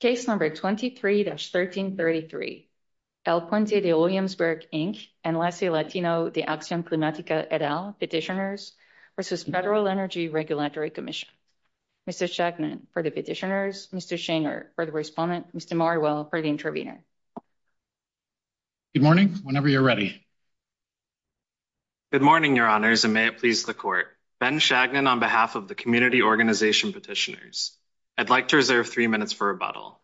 Case number 23-1333. El Puente de Williamsburg, Inc. and LACI Latino de Accion Climatica et al. Petitioners versus Federal Energy Regulatory Commission. Mr. Shagnon for the petitioners, Mr. Schanger for the respondent, Mr. Marwell for the intervener. Good morning, whenever you're ready. Good morning, your honors, and may it please the court. Ben Shagnon on behalf of the community organization petitioners. I'd like to three minutes for rebuttal.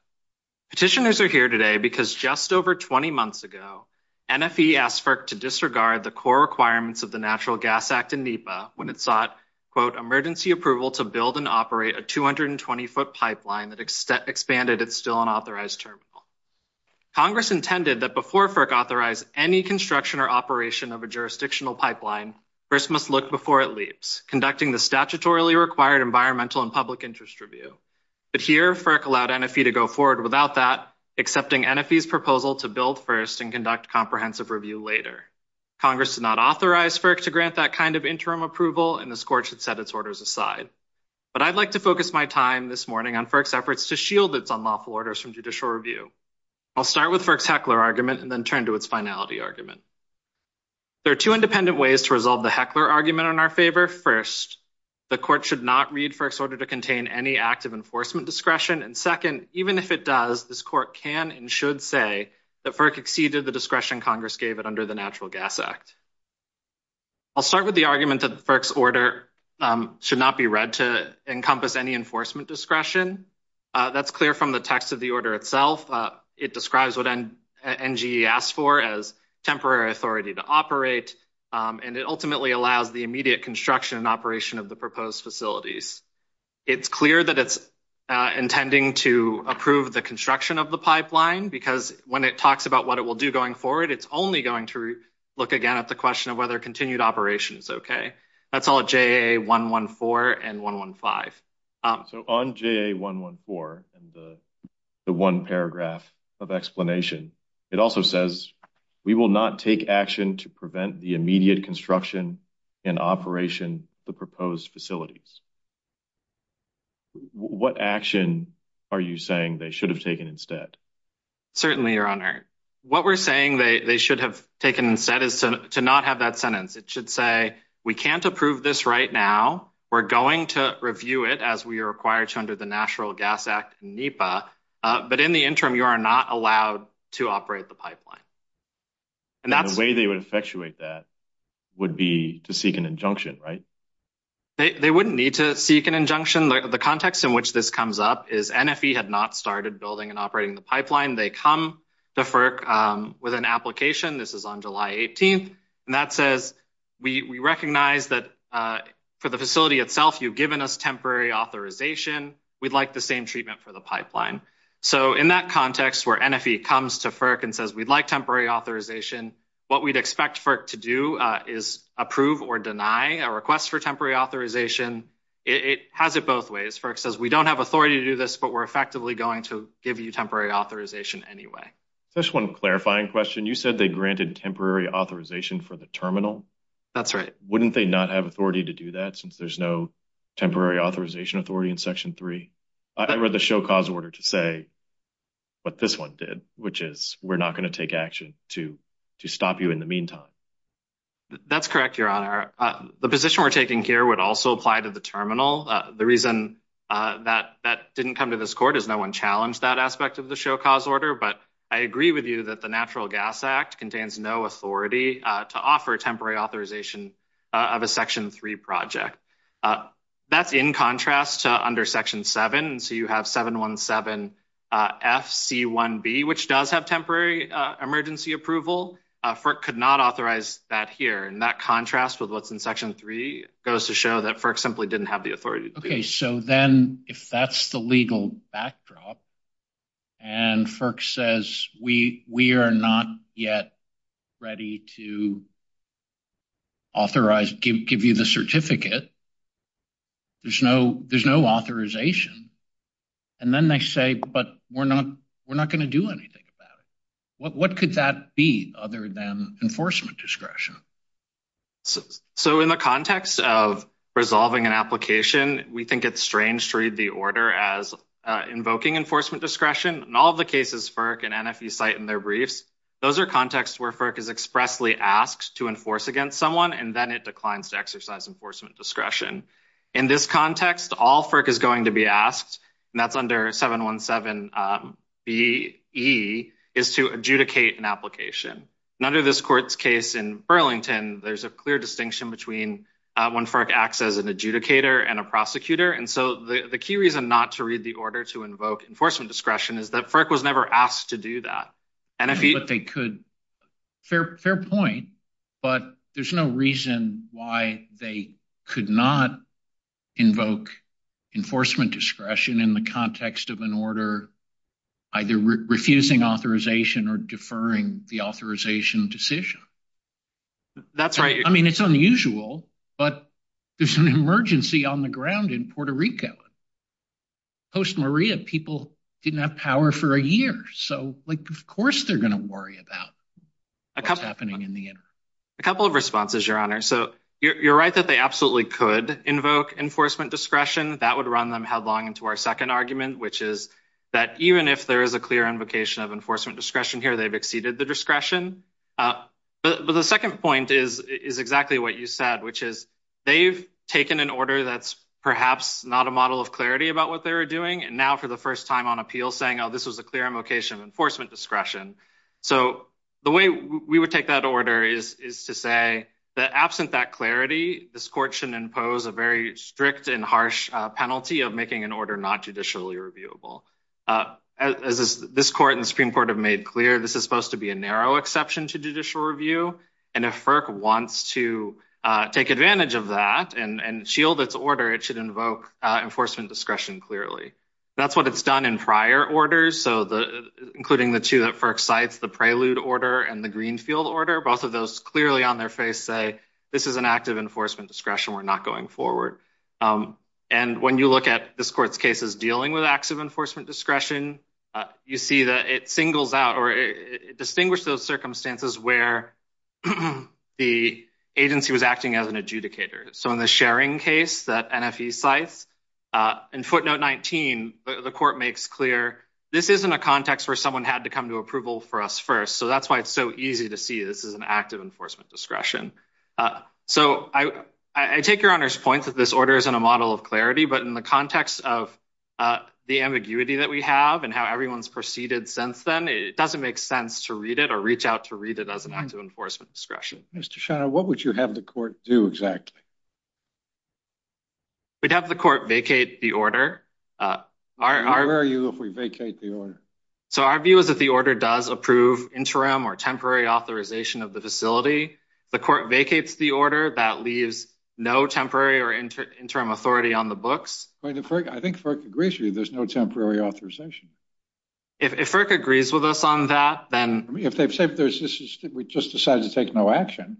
Petitioners are here today because just over 20 months ago, NFE asked FERC to disregard the core requirements of the Natural Gas Act in NEPA when it sought emergency approval to build and operate a 220-foot pipeline that expanded its still unauthorized terminal. Congress intended that before FERC authorized any construction or operation of a jurisdictional pipeline, first must look before it leaps, conducting the environmental and public interest review. But here, FERC allowed NFE to go forward without that, accepting NFE's proposal to build first and conduct comprehensive review later. Congress did not authorize FERC to grant that kind of interim approval, and the court should set its orders aside. But I'd like to focus my time this morning on FERC's efforts to shield its unlawful orders from judicial review. I'll start with FERC's Heckler argument and then turn to its finality argument. There are two independent ways to resolve the Heckler argument in our favor. First, the court should not read FERC's order to contain any act of enforcement discretion, and second, even if it does, this court can and should say that FERC exceeded the discretion Congress gave it under the Natural Gas Act. I'll start with the argument that FERC's order should not be read to encompass any enforcement discretion. That's clear from the text of the order itself. It describes what NGE asked for as temporary authority to operate, and it ultimately allows the immediate construction and operation of the proposed facilities. It's clear that it's intending to approve the construction of the pipeline, because when it talks about what it will do going forward, it's only going to look again at the question of whether continued operation is okay. That's all at JAA 114 and 115. So on JAA 114 and the paragraph of explanation, it also says, we will not take action to prevent the immediate construction and operation of the proposed facilities. What action are you saying they should have taken instead? Certainly, Your Honor. What we're saying they should have taken instead is to not have that sentence. It should say, we can't approve this right now. We're going to review it as we are required to under the Natural Gas Act in NEPA. But in the interim, you are not allowed to operate the pipeline. And the way they would effectuate that would be to seek an injunction, right? They wouldn't need to seek an injunction. The context in which this comes up is NFE had not started building and operating the pipeline. They come to FERC with an application. This is on July 18th. And that says, we recognize that for the facility itself, you've given us temporary authorization. We'd like the same treatment for the pipeline. So in that context where NFE comes to FERC and says, we'd like temporary authorization, what we'd expect FERC to do is approve or deny a request for temporary authorization. It has it both ways. FERC says, we don't have authority to do this, but we're effectively going to give you temporary authorization anyway. Just one clarifying question. You said they granted temporary authorization for the terminal. That's right. Wouldn't they not have authority to do that since there's no temporary authorization authority in section three? I read the show cause order to say what this one did, which is we're not going to take action to stop you in the meantime. That's correct, your honor. The position we're taking here would also apply to the terminal. The reason that that didn't come to this court is no one challenged that aspect of the show cause order. But I agree with you that the Natural Gas Act contains no authority to offer temporary authorization of a section three project. That's in contrast to under section seven. So you have 717 FC1B, which does have temporary emergency approval. FERC could not authorize that here. And that contrast with what's in section three goes to show that FERC simply didn't have the authority. Okay. So then if that's the legal backdrop and FERC says, we are not yet ready to authorize, give you the certificate, there's no authorization. And then they say, but we're not going to do anything about it. What could that be other than enforcement discretion? So in the context of resolving an application, we think it's strange to read the order as invoking enforcement discretion. In all of the cases FERC and NFE cite in their briefs, those are contexts where FERC is expressly asked to enforce against someone, and then it declines to exercise enforcement discretion. In this context, all FERC is going to be asked, and that's under 717BE, is to adjudicate an application. And under this court's case in Burlington, there's a clear distinction between when FERC acts as an authority. The key reason not to read the order to invoke enforcement discretion is that FERC was never asked to do that. Fair point, but there's no reason why they could not invoke enforcement discretion in the context of an order either refusing authorization or deferring the authorization decision. That's right. I mean, it's unusual, but there's an emergency on the issue. Post Maria, people didn't have power for a year, so of course they're going to worry about what's happening in the interim. A couple of responses, Your Honor. So you're right that they absolutely could invoke enforcement discretion. That would run them headlong into our second argument, which is that even if there is a clear invocation of enforcement discretion here, they've exceeded the discretion. But the second point is exactly what you said, which is they've taken an order that's perhaps not a model of clarity about what they were doing, and now for the first time on appeal saying, oh, this was a clear invocation of enforcement discretion. So the way we would take that order is to say that absent that clarity, this court shouldn't impose a very strict and harsh penalty of making an order not judicially reviewable. As this court and the Supreme Court have made clear, this is supposed to be a narrow exception to judicial review, and if FERC wants to take advantage of that and shield its order, it should invoke enforcement discretion clearly. That's what it's done in prior orders, so including the two that FERC cites, the prelude order and the Greenfield order, both of those clearly on their face say, this is an act of enforcement discretion. We're not going forward. And when you look at this court's cases dealing with acts of enforcement discretion, you see that it singles out or distinguish those circumstances where the agency was acting as an adjudicator. So in the sharing case that NFE cites, in footnote 19, the court makes clear, this isn't a context where someone had to come to approval for us first, so that's why it's so easy to see this is an act of enforcement discretion. So I take your Honor's point that this order isn't a model of clarity, but in the context of the ambiguity that we have and how everyone's proceeded since then, it doesn't make sense to read it or reach out to read it as an act of enforcement discretion. Mr. Shiner, what would you have the court do exactly? We'd have the court vacate the order. Where are you if we vacate the order? So our view is that the order does approve interim or temporary authorization of the facility. The court vacates the order, that leaves no temporary or interim authority on the books. I think FERC agrees with you, there's no temporary authorization. If FERC agrees with us on that, then... If they've said we just decided to take no action,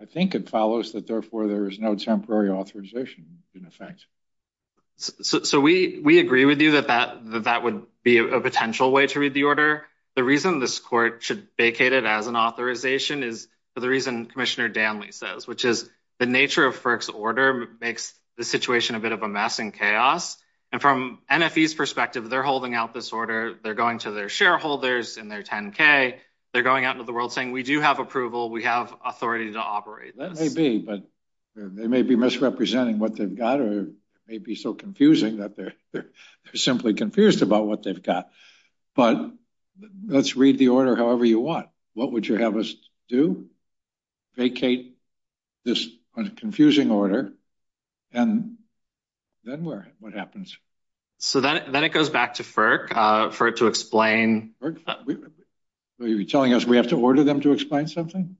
I think it follows that therefore there is no temporary authorization in effect. So we agree with you that that would be a potential way to read the order. The reason this court should vacate it as an authorization is for the reason Commissioner Danley says, the nature of FERC's order makes the situation a bit of a mess and chaos. And from NFE's perspective, they're holding out this order, they're going to their shareholders in their 10K, they're going out into the world saying, we do have approval, we have authority to operate this. That may be, but they may be misrepresenting what they've got or it may be so confusing that they're simply confused about what they've got. But let's read the order however you want. What would you have us do? Vacate this confusing order and then what happens? So then it goes back to FERC for it to explain. So you're telling us we have to order them to explain something?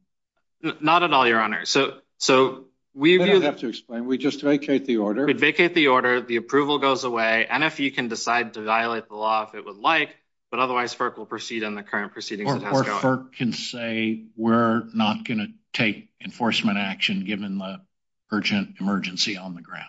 Not at all, Your Honor. So we... We don't have to explain, we just vacate the order. We vacate the order, the approval goes away, NFE can decide to violate the law if it would like, but otherwise FERC will proceed on the current proceedings. Or FERC can say, we're not going to take enforcement action given the urgent emergency on the ground.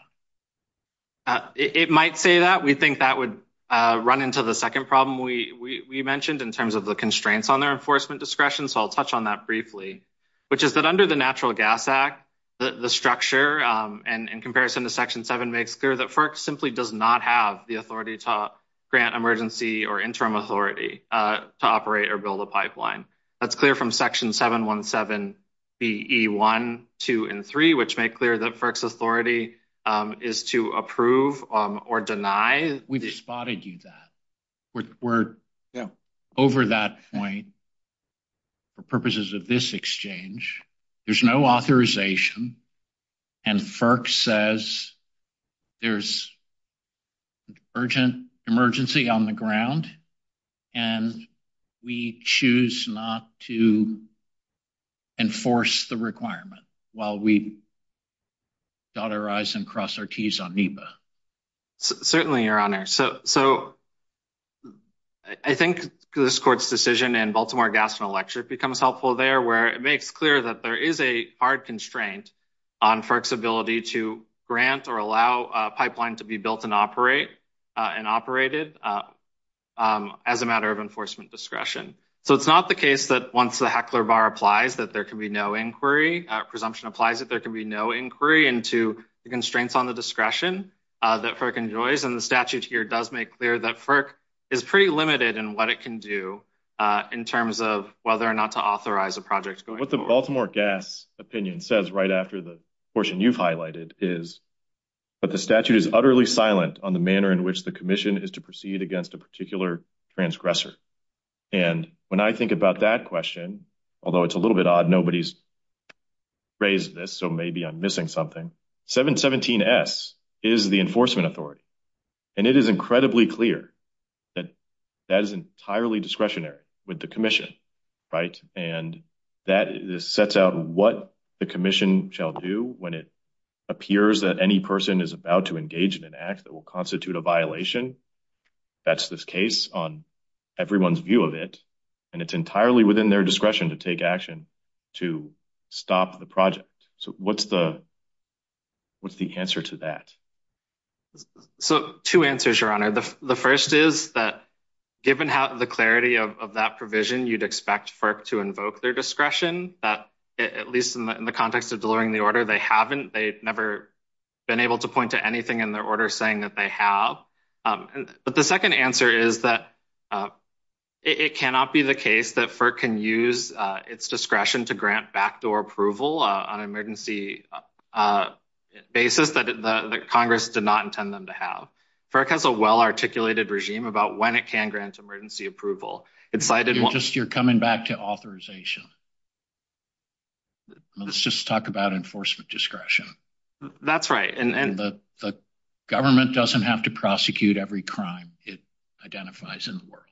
It might say that, we think that would run into the second problem we mentioned in terms of the constraints on their enforcement discretion, so I'll touch on that briefly, which is that under the Natural Gas Act, the structure and in comparison to Section 7 makes clear that FERC simply does not have the authority to grant emergency or interim authority to operate or build a pipeline. That's clear from Section 717 BE1, 2, and 3, which make clear that FERC's authority is to approve or deny. We've spotted you that. We're over that point for purposes of this exchange. There's no authorization and FERC says there's an urgent emergency on the ground, and we choose not to enforce the requirement while we dot our I's and cross our T's on NEPA. Certainly, Your Honor, so I think this Court's decision in Baltimore Gas and Electric becomes helpful there where it makes clear that there is a hard constraint on FERC's ability to grant or allow a pipeline to be built and operate and operated as a matter of enforcement discretion, so it's not the case that once the heckler bar applies that there can be no inquiry. Presumption applies that there can be no inquiry into the constraints on the discretion that FERC enjoys, and the statute here does make clear that FERC is pretty limited in what it can do in terms of whether or not to authorize a project. What the Baltimore Gas opinion says right after the portion you've highlighted is, but the statute is utterly silent on the manner in which the commission is to proceed against a particular transgressor, and when I think about that question, although it's a little bit odd nobody's raised this, so maybe I'm missing something, 717S is the enforcement authority, and it is incredibly clear that that is entirely discretionary with the commission, right, and that sets out what the commission shall do when it appears that any person is about to engage in an act that will constitute a violation. That's the case on everyone's view of it, and it's entirely within their discretion to take action to stop the project. So what's the answer to that? So two answers, Your Honor. The first is that given the clarity of that provision, you'd expect FERC to invoke their discretion, that at least in the context of delivering the order, they haven't, they've never been able to point to anything in their order saying that they have. But the second answer is that it cannot be the case that FERC can use its discretion to grant backdoor approval on an emergency basis that Congress did not intend them to have. FERC has well articulated regime about when it can grant emergency approval. You're coming back to authorization. Let's just talk about enforcement discretion. That's right. And the government doesn't have to prosecute every crime it identifies in the world.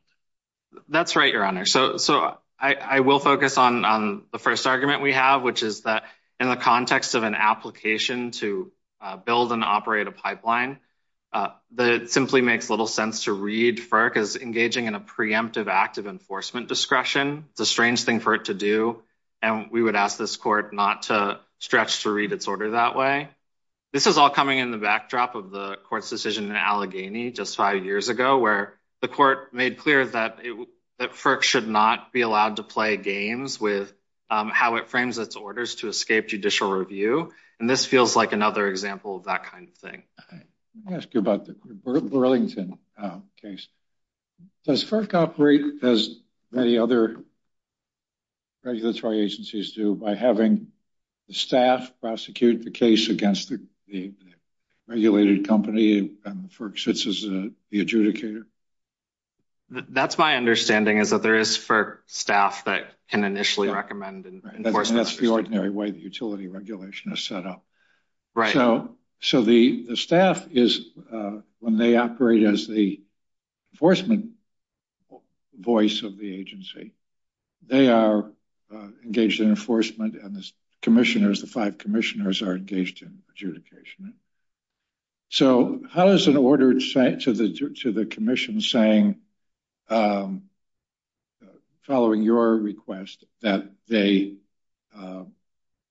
That's right, Your Honor. So I will focus on the first argument we have, which is that in the context of an application to build and operate a pipeline, it simply makes little sense to read FERC as engaging in a preemptive act of enforcement discretion. It's a strange thing for it to do, and we would ask this court not to stretch to read its order that way. This is all coming in the backdrop of the court's decision in Allegheny just five years ago, where the court made clear that FERC should not be allowed to play games with how it frames its orders to escape judicial review. And this feels like an other example of that kind of thing. Let me ask you about the Burlington case. Does FERC operate as many other regulatory agencies do by having the staff prosecute the case against the regulated company and FERC sits as the adjudicator? That's my understanding, is that there is FERC staff that can initially recommend enforcement. That's the ordinary way the utility regulation is set up. Right. So the staff, when they operate as the enforcement voice of the agency, they are engaged in enforcement and the commissioners, the five commissioners, are engaged in adjudication. So how is an order sent to the commission saying, following your request, that they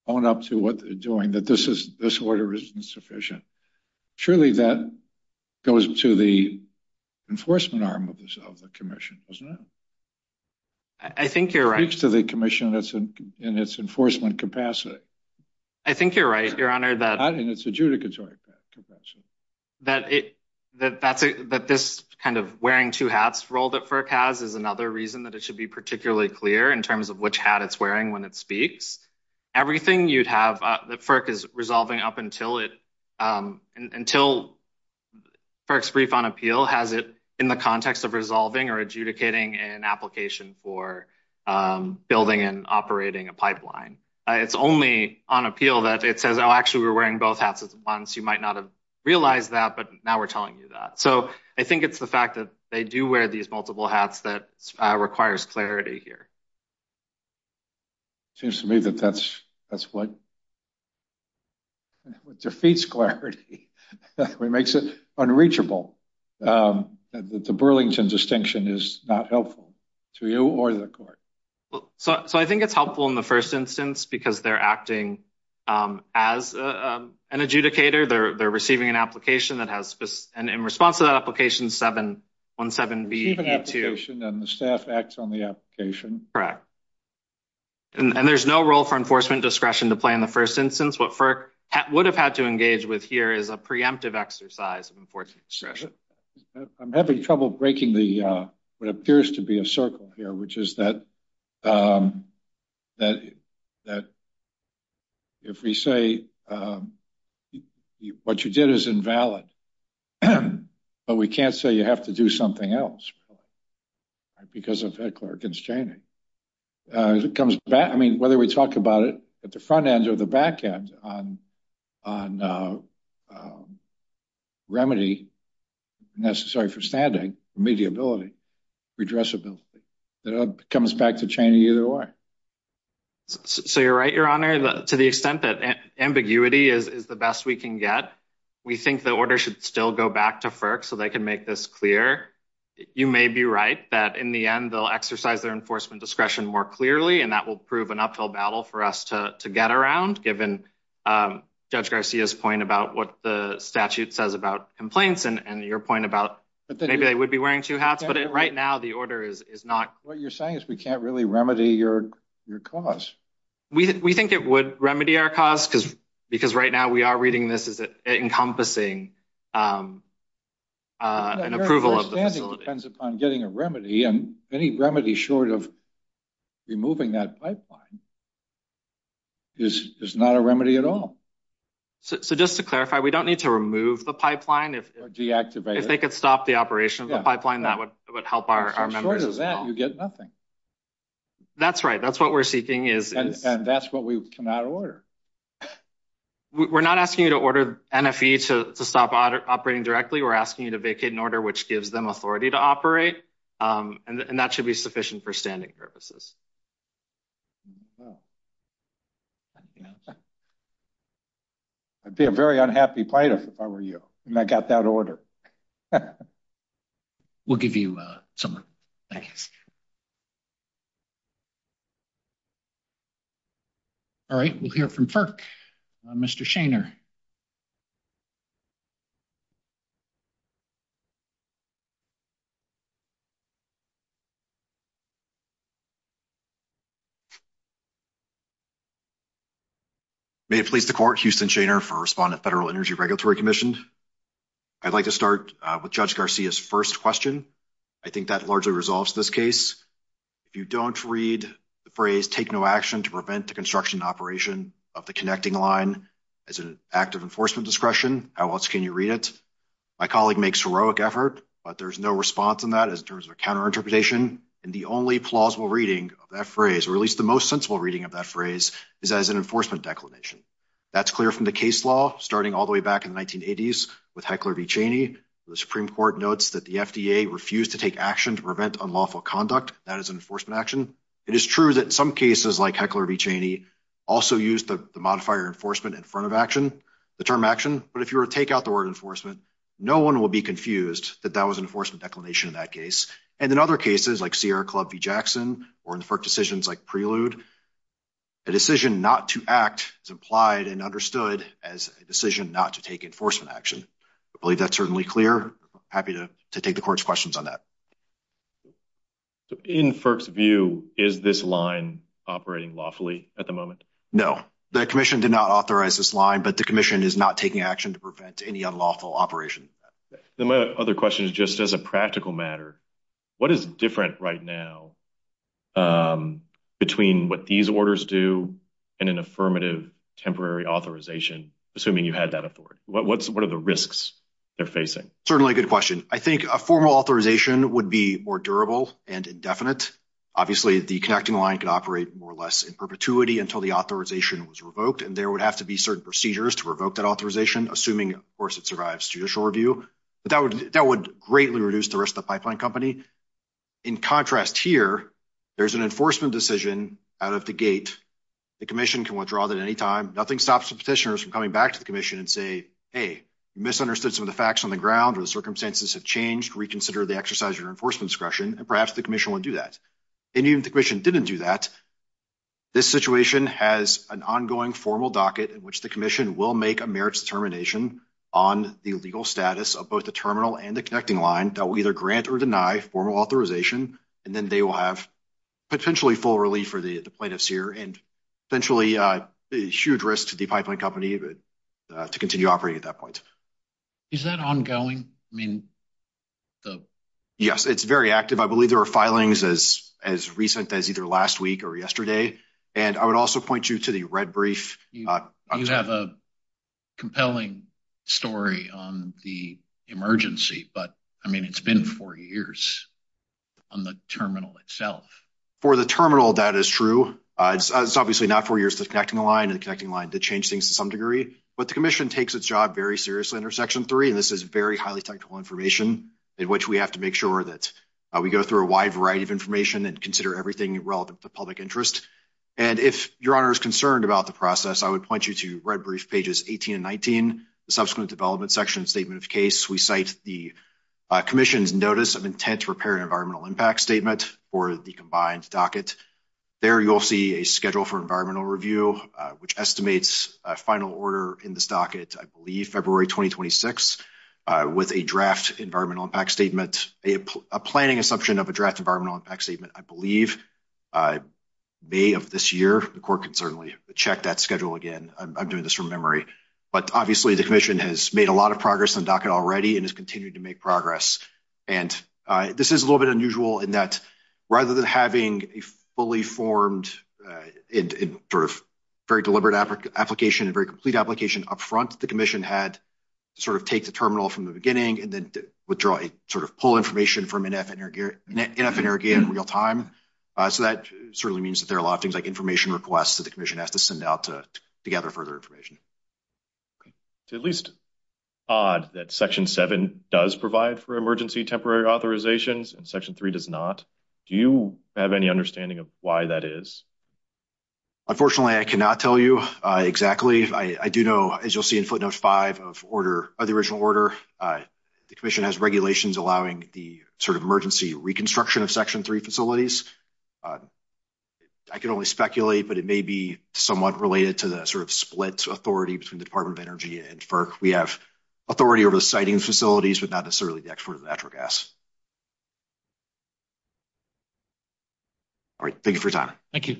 own up to what they're doing, that this order isn't sufficient? Surely that goes to the enforcement arm of the commission, doesn't it? I think you're right. Speaks to the commission in its enforcement capacity. I think you're right, Your Honor. Not in its adjudicatory capacity. That this kind of wearing two hats role that FERC has is another reason that it should be particularly clear in terms of which hat it's wearing when it speaks. Everything you'd have that FERC is resolving up until FERC's brief on appeal has it in the context of resolving or adjudicating an application for building and operating a pipeline. It's only on appeal that actually we're wearing both hats at once. You might not have realized that, but now we're telling you that. So I think it's the fact that they do wear these multiple hats that requires clarity here. Seems to me that that's what defeats clarity, what makes it unreachable. The Burlington distinction is not helpful to you or the court. So I think it's helpful in the first instance because they're acting as an adjudicator. They're receiving an application that has this. And in response to that application, 717B-82. Receiving an application and the staff acts on the application. Correct. And there's no role for enforcement discretion to play in the first instance. What FERC would have had to engage with here is a preemptive exercise of enforcement discretion. I'm having trouble breaking what appears to be a circle here, which is that if we say what you did is invalid, but we can't say you have to do something else because of head clerk constraining. Whether we talk about it at the front end or the back end on a remedy necessary for standing, mediability, redressability, that comes back to chain either way. So you're right, your honor, to the extent that ambiguity is the best we can get. We think the order should still go back to FERC so they can make this clear. You may be right that in the end, they'll exercise their enforcement discretion more clearly and that will prove an uphill battle for us to get around given Judge Garcia's point about what the statute says about complaints and your point about maybe they would be wearing two hats, but right now the order is not. What you're saying is we can't really remedy your cause. We think it would remedy our cause because right now we are reading this as encompassing an approval of the facility. It depends upon getting a remedy and any remedy short of removing that pipeline is not a remedy at all. So just to clarify, we don't need to remove the pipeline? Or deactivate it. If they could stop the operation of the pipeline, that would help our members. Short of that, you get nothing. That's right, that's what we're seeking. And that's what we cannot order. We're not asking you to order NFE to stop operating directly. We're asking you to vacate an order which gives them authority to operate and that should be sufficient for standing purposes. Well. I'd be a very unhappy plaintiff if I were you and I got that order. We'll give you someone. Thanks. All right, we'll hear from FERC. Mr. Shainer. May it please the court, Houston Shainer for Respondent Federal Energy Regulatory Commission. I'd like to start with Judge Garcia's first question. I think that largely resolves this case. If you don't read the phrase, take no action to prevent the construction operation of the connecting line as an act of enforcement discretion, how else can you read it? My colleague makes heroic effort, but there's no response in that in terms of a counter the only plausible reading of that phrase, or at least the most sensible reading of that phrase is as an enforcement declination. That's clear from the case law starting all the way back in the 1980s with Heckler v. Cheney. The Supreme Court notes that the FDA refused to take action to prevent unlawful conduct. That is an enforcement action. It is true that some cases like Heckler v. Cheney also used the modifier enforcement in front of action, the term action. But if you were to take out the word enforcement, no one will be confused that that was an enforcement declination in that case. And in other cases like Sierra Club v. Jackson, or in decisions like Prelude, a decision not to act is implied and understood as a decision not to take enforcement action. I believe that's certainly clear. Happy to take the court's questions on that. In FERC's view, is this line operating lawfully at the moment? No, the commission did not authorize this line, but the commission is not taking action to prevent any unlawful operation. Then my other question is just as a practical matter, what is different right now between what these orders do and an affirmative temporary authorization, assuming you had that authority? What are the risks they're facing? Certainly a good question. I think a formal authorization would be more durable and indefinite. Obviously, the connecting line could operate more or less in perpetuity until the authorization was revoked, and there would have to be certain procedures to revoke that authorization, assuming, of course, it survives judicial review. But that would greatly reduce the risk to the pipeline company. In contrast here, there's an enforcement decision out of the gate. The commission can withdraw that at any time. Nothing stops the petitioners from coming back to the commission and say, hey, you misunderstood some of the facts on the ground, or the circumstances have changed. Reconsider the exercise of your enforcement discretion, and perhaps the commission would do that. And even if the commission didn't do that, this situation has an ongoing formal docket in which the commission will make a merits determination on the legal status of both the terminal and the connecting line that will either grant or deny formal authorization, and then they will have potentially full relief for the plaintiffs here and potentially a huge risk to the pipeline company to continue operating at that point. Is that ongoing? Yes, it's very active. I believe there are filings as recent as either last week or yesterday. And I would also point you to the red brief. You have a compelling story on the emergency, but, I mean, it's been four years on the terminal itself. For the terminal, that is true. It's obviously not four years to connecting the line and the connecting line to change things to some degree. But the commission takes its job very seriously under Section 3, and this is very highly technical information in which we have to make sure that we go through a wide variety of information and consider everything relevant to public interest. And if your honor is concerned about the process, I would point you to red brief pages 18 and 19, the subsequent development section statement of case. We cite the commission's notice of intent to repair an environmental impact statement for the combined docket. There you'll see a schedule for environmental review, which estimates a final order in this docket, I believe February 2026, with a draft environmental impact statement, a planning assumption of a draft environmental impact statement, I believe, May of this year. The court can certainly check that schedule again. I'm doing this from memory. But obviously, the commission has made a lot of progress in the docket already and has continued to make progress. And this is a little bit unusual in that, rather than having a fully formed and sort of very deliberate application and very complete application up front, the commission had to sort of take the terminal from the beginning and then withdraw a sort of pull information from NFNRG in real time. So that certainly means that there are a lot of things like information requests that the commission has to send out to gather further information. It's at least odd that section seven does provide for emergency temporary authorizations and section three does not. Do you have any understanding of why that is? Unfortunately, I cannot tell you exactly. I do know, as you'll see in footnote five of the original order, the commission has regulations allowing the sort of emergency reconstruction of section three facilities. I can only speculate, but it may be somewhat related to the sort of split authority between the Department of Energy and FERC. We have authority over the siting facilities, but not necessarily the export of natural gas. All right, thank you for your time. Thank you.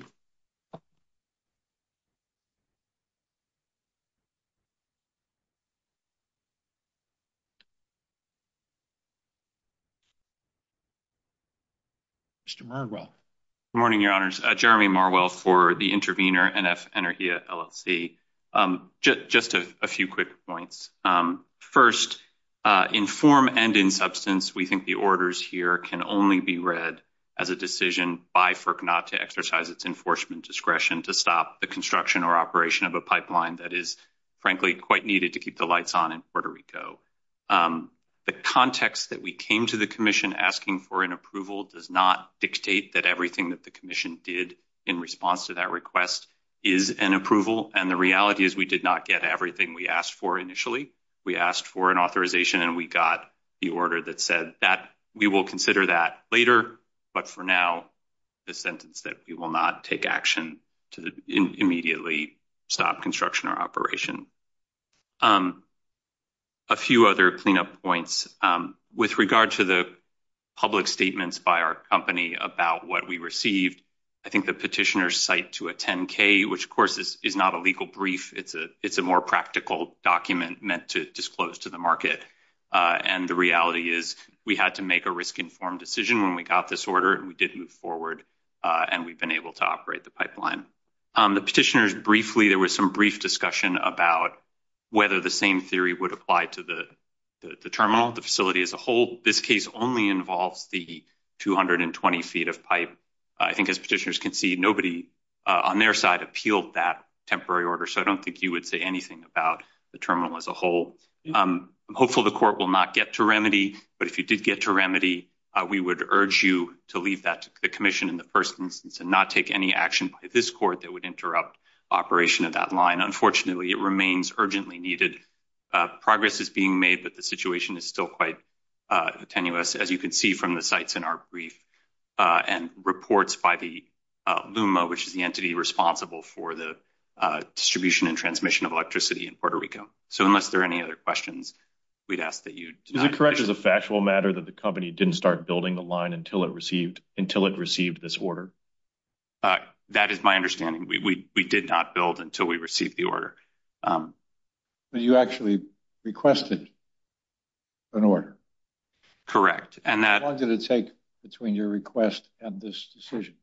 Mr. Marwell. Good morning, Your Honors. Jeremy Marwell for the intervener, NFNRG LLC. Just a few quick points. First, in form and in substance, we think the orders here can only be read as a decision by FERC not to exercise its enforcement discretion to stop the construction or operation of a pipeline that is frankly quite needed to keep the lights on in Puerto Rico. The context that we came to the commission asking for an approval does not dictate that everything that the commission did in response to that request is an approval, and the reality is we did not get everything we asked for initially. We asked for an authorization, and we got the order that said that we will consider that later, but for now, the sentence that we will not take action to immediately stop construction or operation. A few other cleanup points. With regard to the public statements by our company about what we received, I think the petitioners cite to a 10-K, which, of course, is not a legal brief. It's a more practical document meant to disclose to the market, and the reality is we had to make a risk-informed decision when we got this order, and we did move forward, and we've been able to operate the pipeline. The petitioners briefly, there was some brief discussion about whether the same theory would apply to the terminal, the facility as a whole. This case only involves the 220 feet of pipe. I think as petitioners can see, nobody on their side appealed that temporary order, so I don't think you would say anything about the terminal as a whole. Hopefully, the court will not get to remedy, but if you did get to remedy, we would urge you to leave that to the commission in the first instance and not take any action by this court that would interrupt operation of that line. Unfortunately, it remains urgently needed. Progress is being made, but the situation is still quite tenuous, as you can see from the sites in our brief and reports by the LUMA, which is the entity responsible for the distribution and transmission of electricity in Puerto Rico. So unless there are any other questions, we'd ask that you... Is it correct as a factual matter that the company didn't start building the line until it received this order? That is my understanding. We did not build until we received the order. But you actually requested an order. And that... How long did it take between your request and this decision?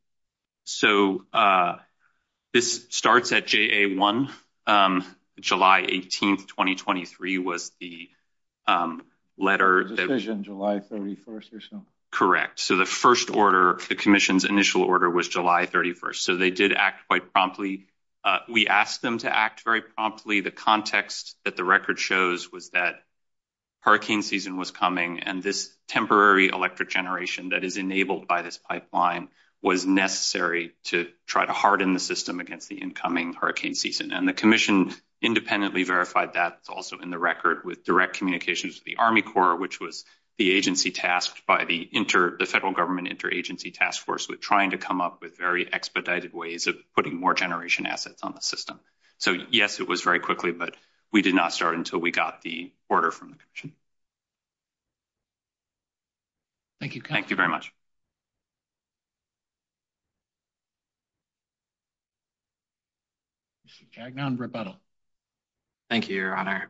So this starts at JA1. July 18th, 2023 was the letter... The decision, July 31st or so. Correct. So the first order, the commission's initial order was July 31st. So they did act quite promptly. We asked them to act very promptly. The context that the record shows was that hurricane season was coming and this temporary electric generation that is enabled by this pipeline was necessary to try to harden the system against the incoming hurricane season. And the commission independently verified that also in the record with direct communications to the Army Corps, which was the agency tasked by the inter... The federal government interagency task force with trying to come up with very expedited ways of putting more generation assets on the system. So yes, it was very quickly, but we did not start until we got the order from the commission. Thank you. Thank you very much. Jack, now on rebuttal. Thank you, Your Honor.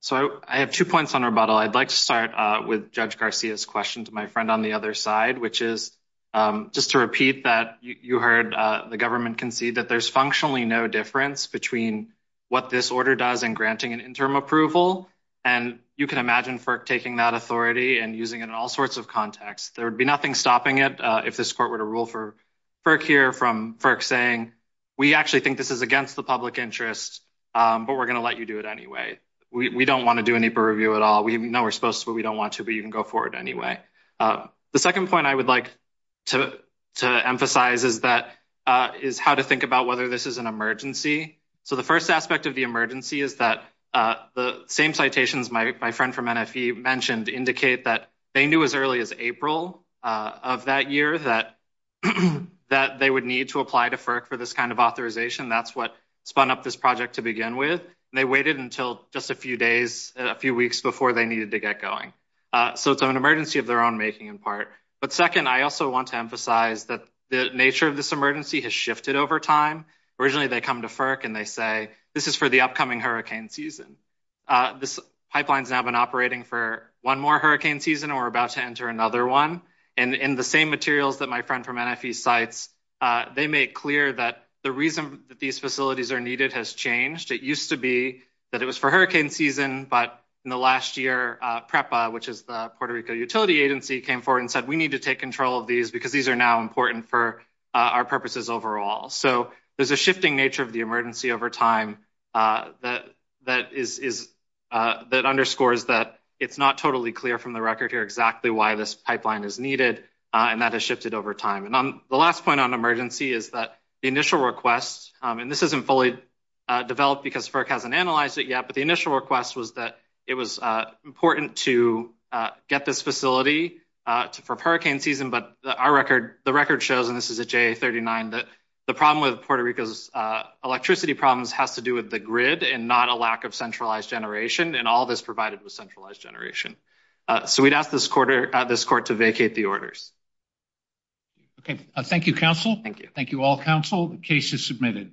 So I have two points on rebuttal. I'd like to start with Judge Garcia's question to my friend on the other side, which is just to repeat that you heard the government concede that there's functionally no difference between what this order does in granting an interim approval. And you can imagine FERC taking that authority and using it in all sorts of contexts. There would be nothing stopping it if this court were to rule for FERC here from FERC saying, we actually think this is against the public interest, but we're going to let you do it anyway. We don't want to do any purview at all. No, we're supposed to, but we don't want to, but you can go forward anyway. The second point I would like to emphasize is that is how to think about whether this is an emergency. So the first aspect of the emergency is that the same citations my friend from NFE mentioned indicate that they knew as early as April of that year that they would need to apply to FERC for this kind of authorization. That's what spun up this project to begin with. They waited until just a few days, a few weeks before they needed to get going. So it's an emergency of their own making in part. But second, I also want to emphasize that the nature of this emergency has shifted over time. Originally, they come to FERC and they say, this is for the upcoming hurricane season. This pipeline's now been operating for one more hurricane season, and we're about to enter another one. And in the same materials that my friend from NFE cites, they make clear that the reason that these facilities are needed has changed. It used to be that it was for hurricane season, but in the last year, PREPA, which is the Puerto Rico utility agency, came forward and said, we need to take control of these because these are now important for our purposes overall. So there's a shifting nature of the emergency over time that underscores that it's not totally clear from the record here exactly why this pipeline is needed, and that has shifted over time. And the last point on emergency is that the initial request, and this isn't fully developed because FERC hasn't analyzed it yet, but the initial request was that it was important to get this facility for hurricane season, but the record shows, and this is at JA39, that the problem with Puerto Rico's electricity problems has to do with the grid and not a lack of centralized generation, and all this provided was centralized generation. So we'd ask this court to vacate the orders. Okay. Thank you, counsel. Thank you. Thank you all, counsel. The case is submitted.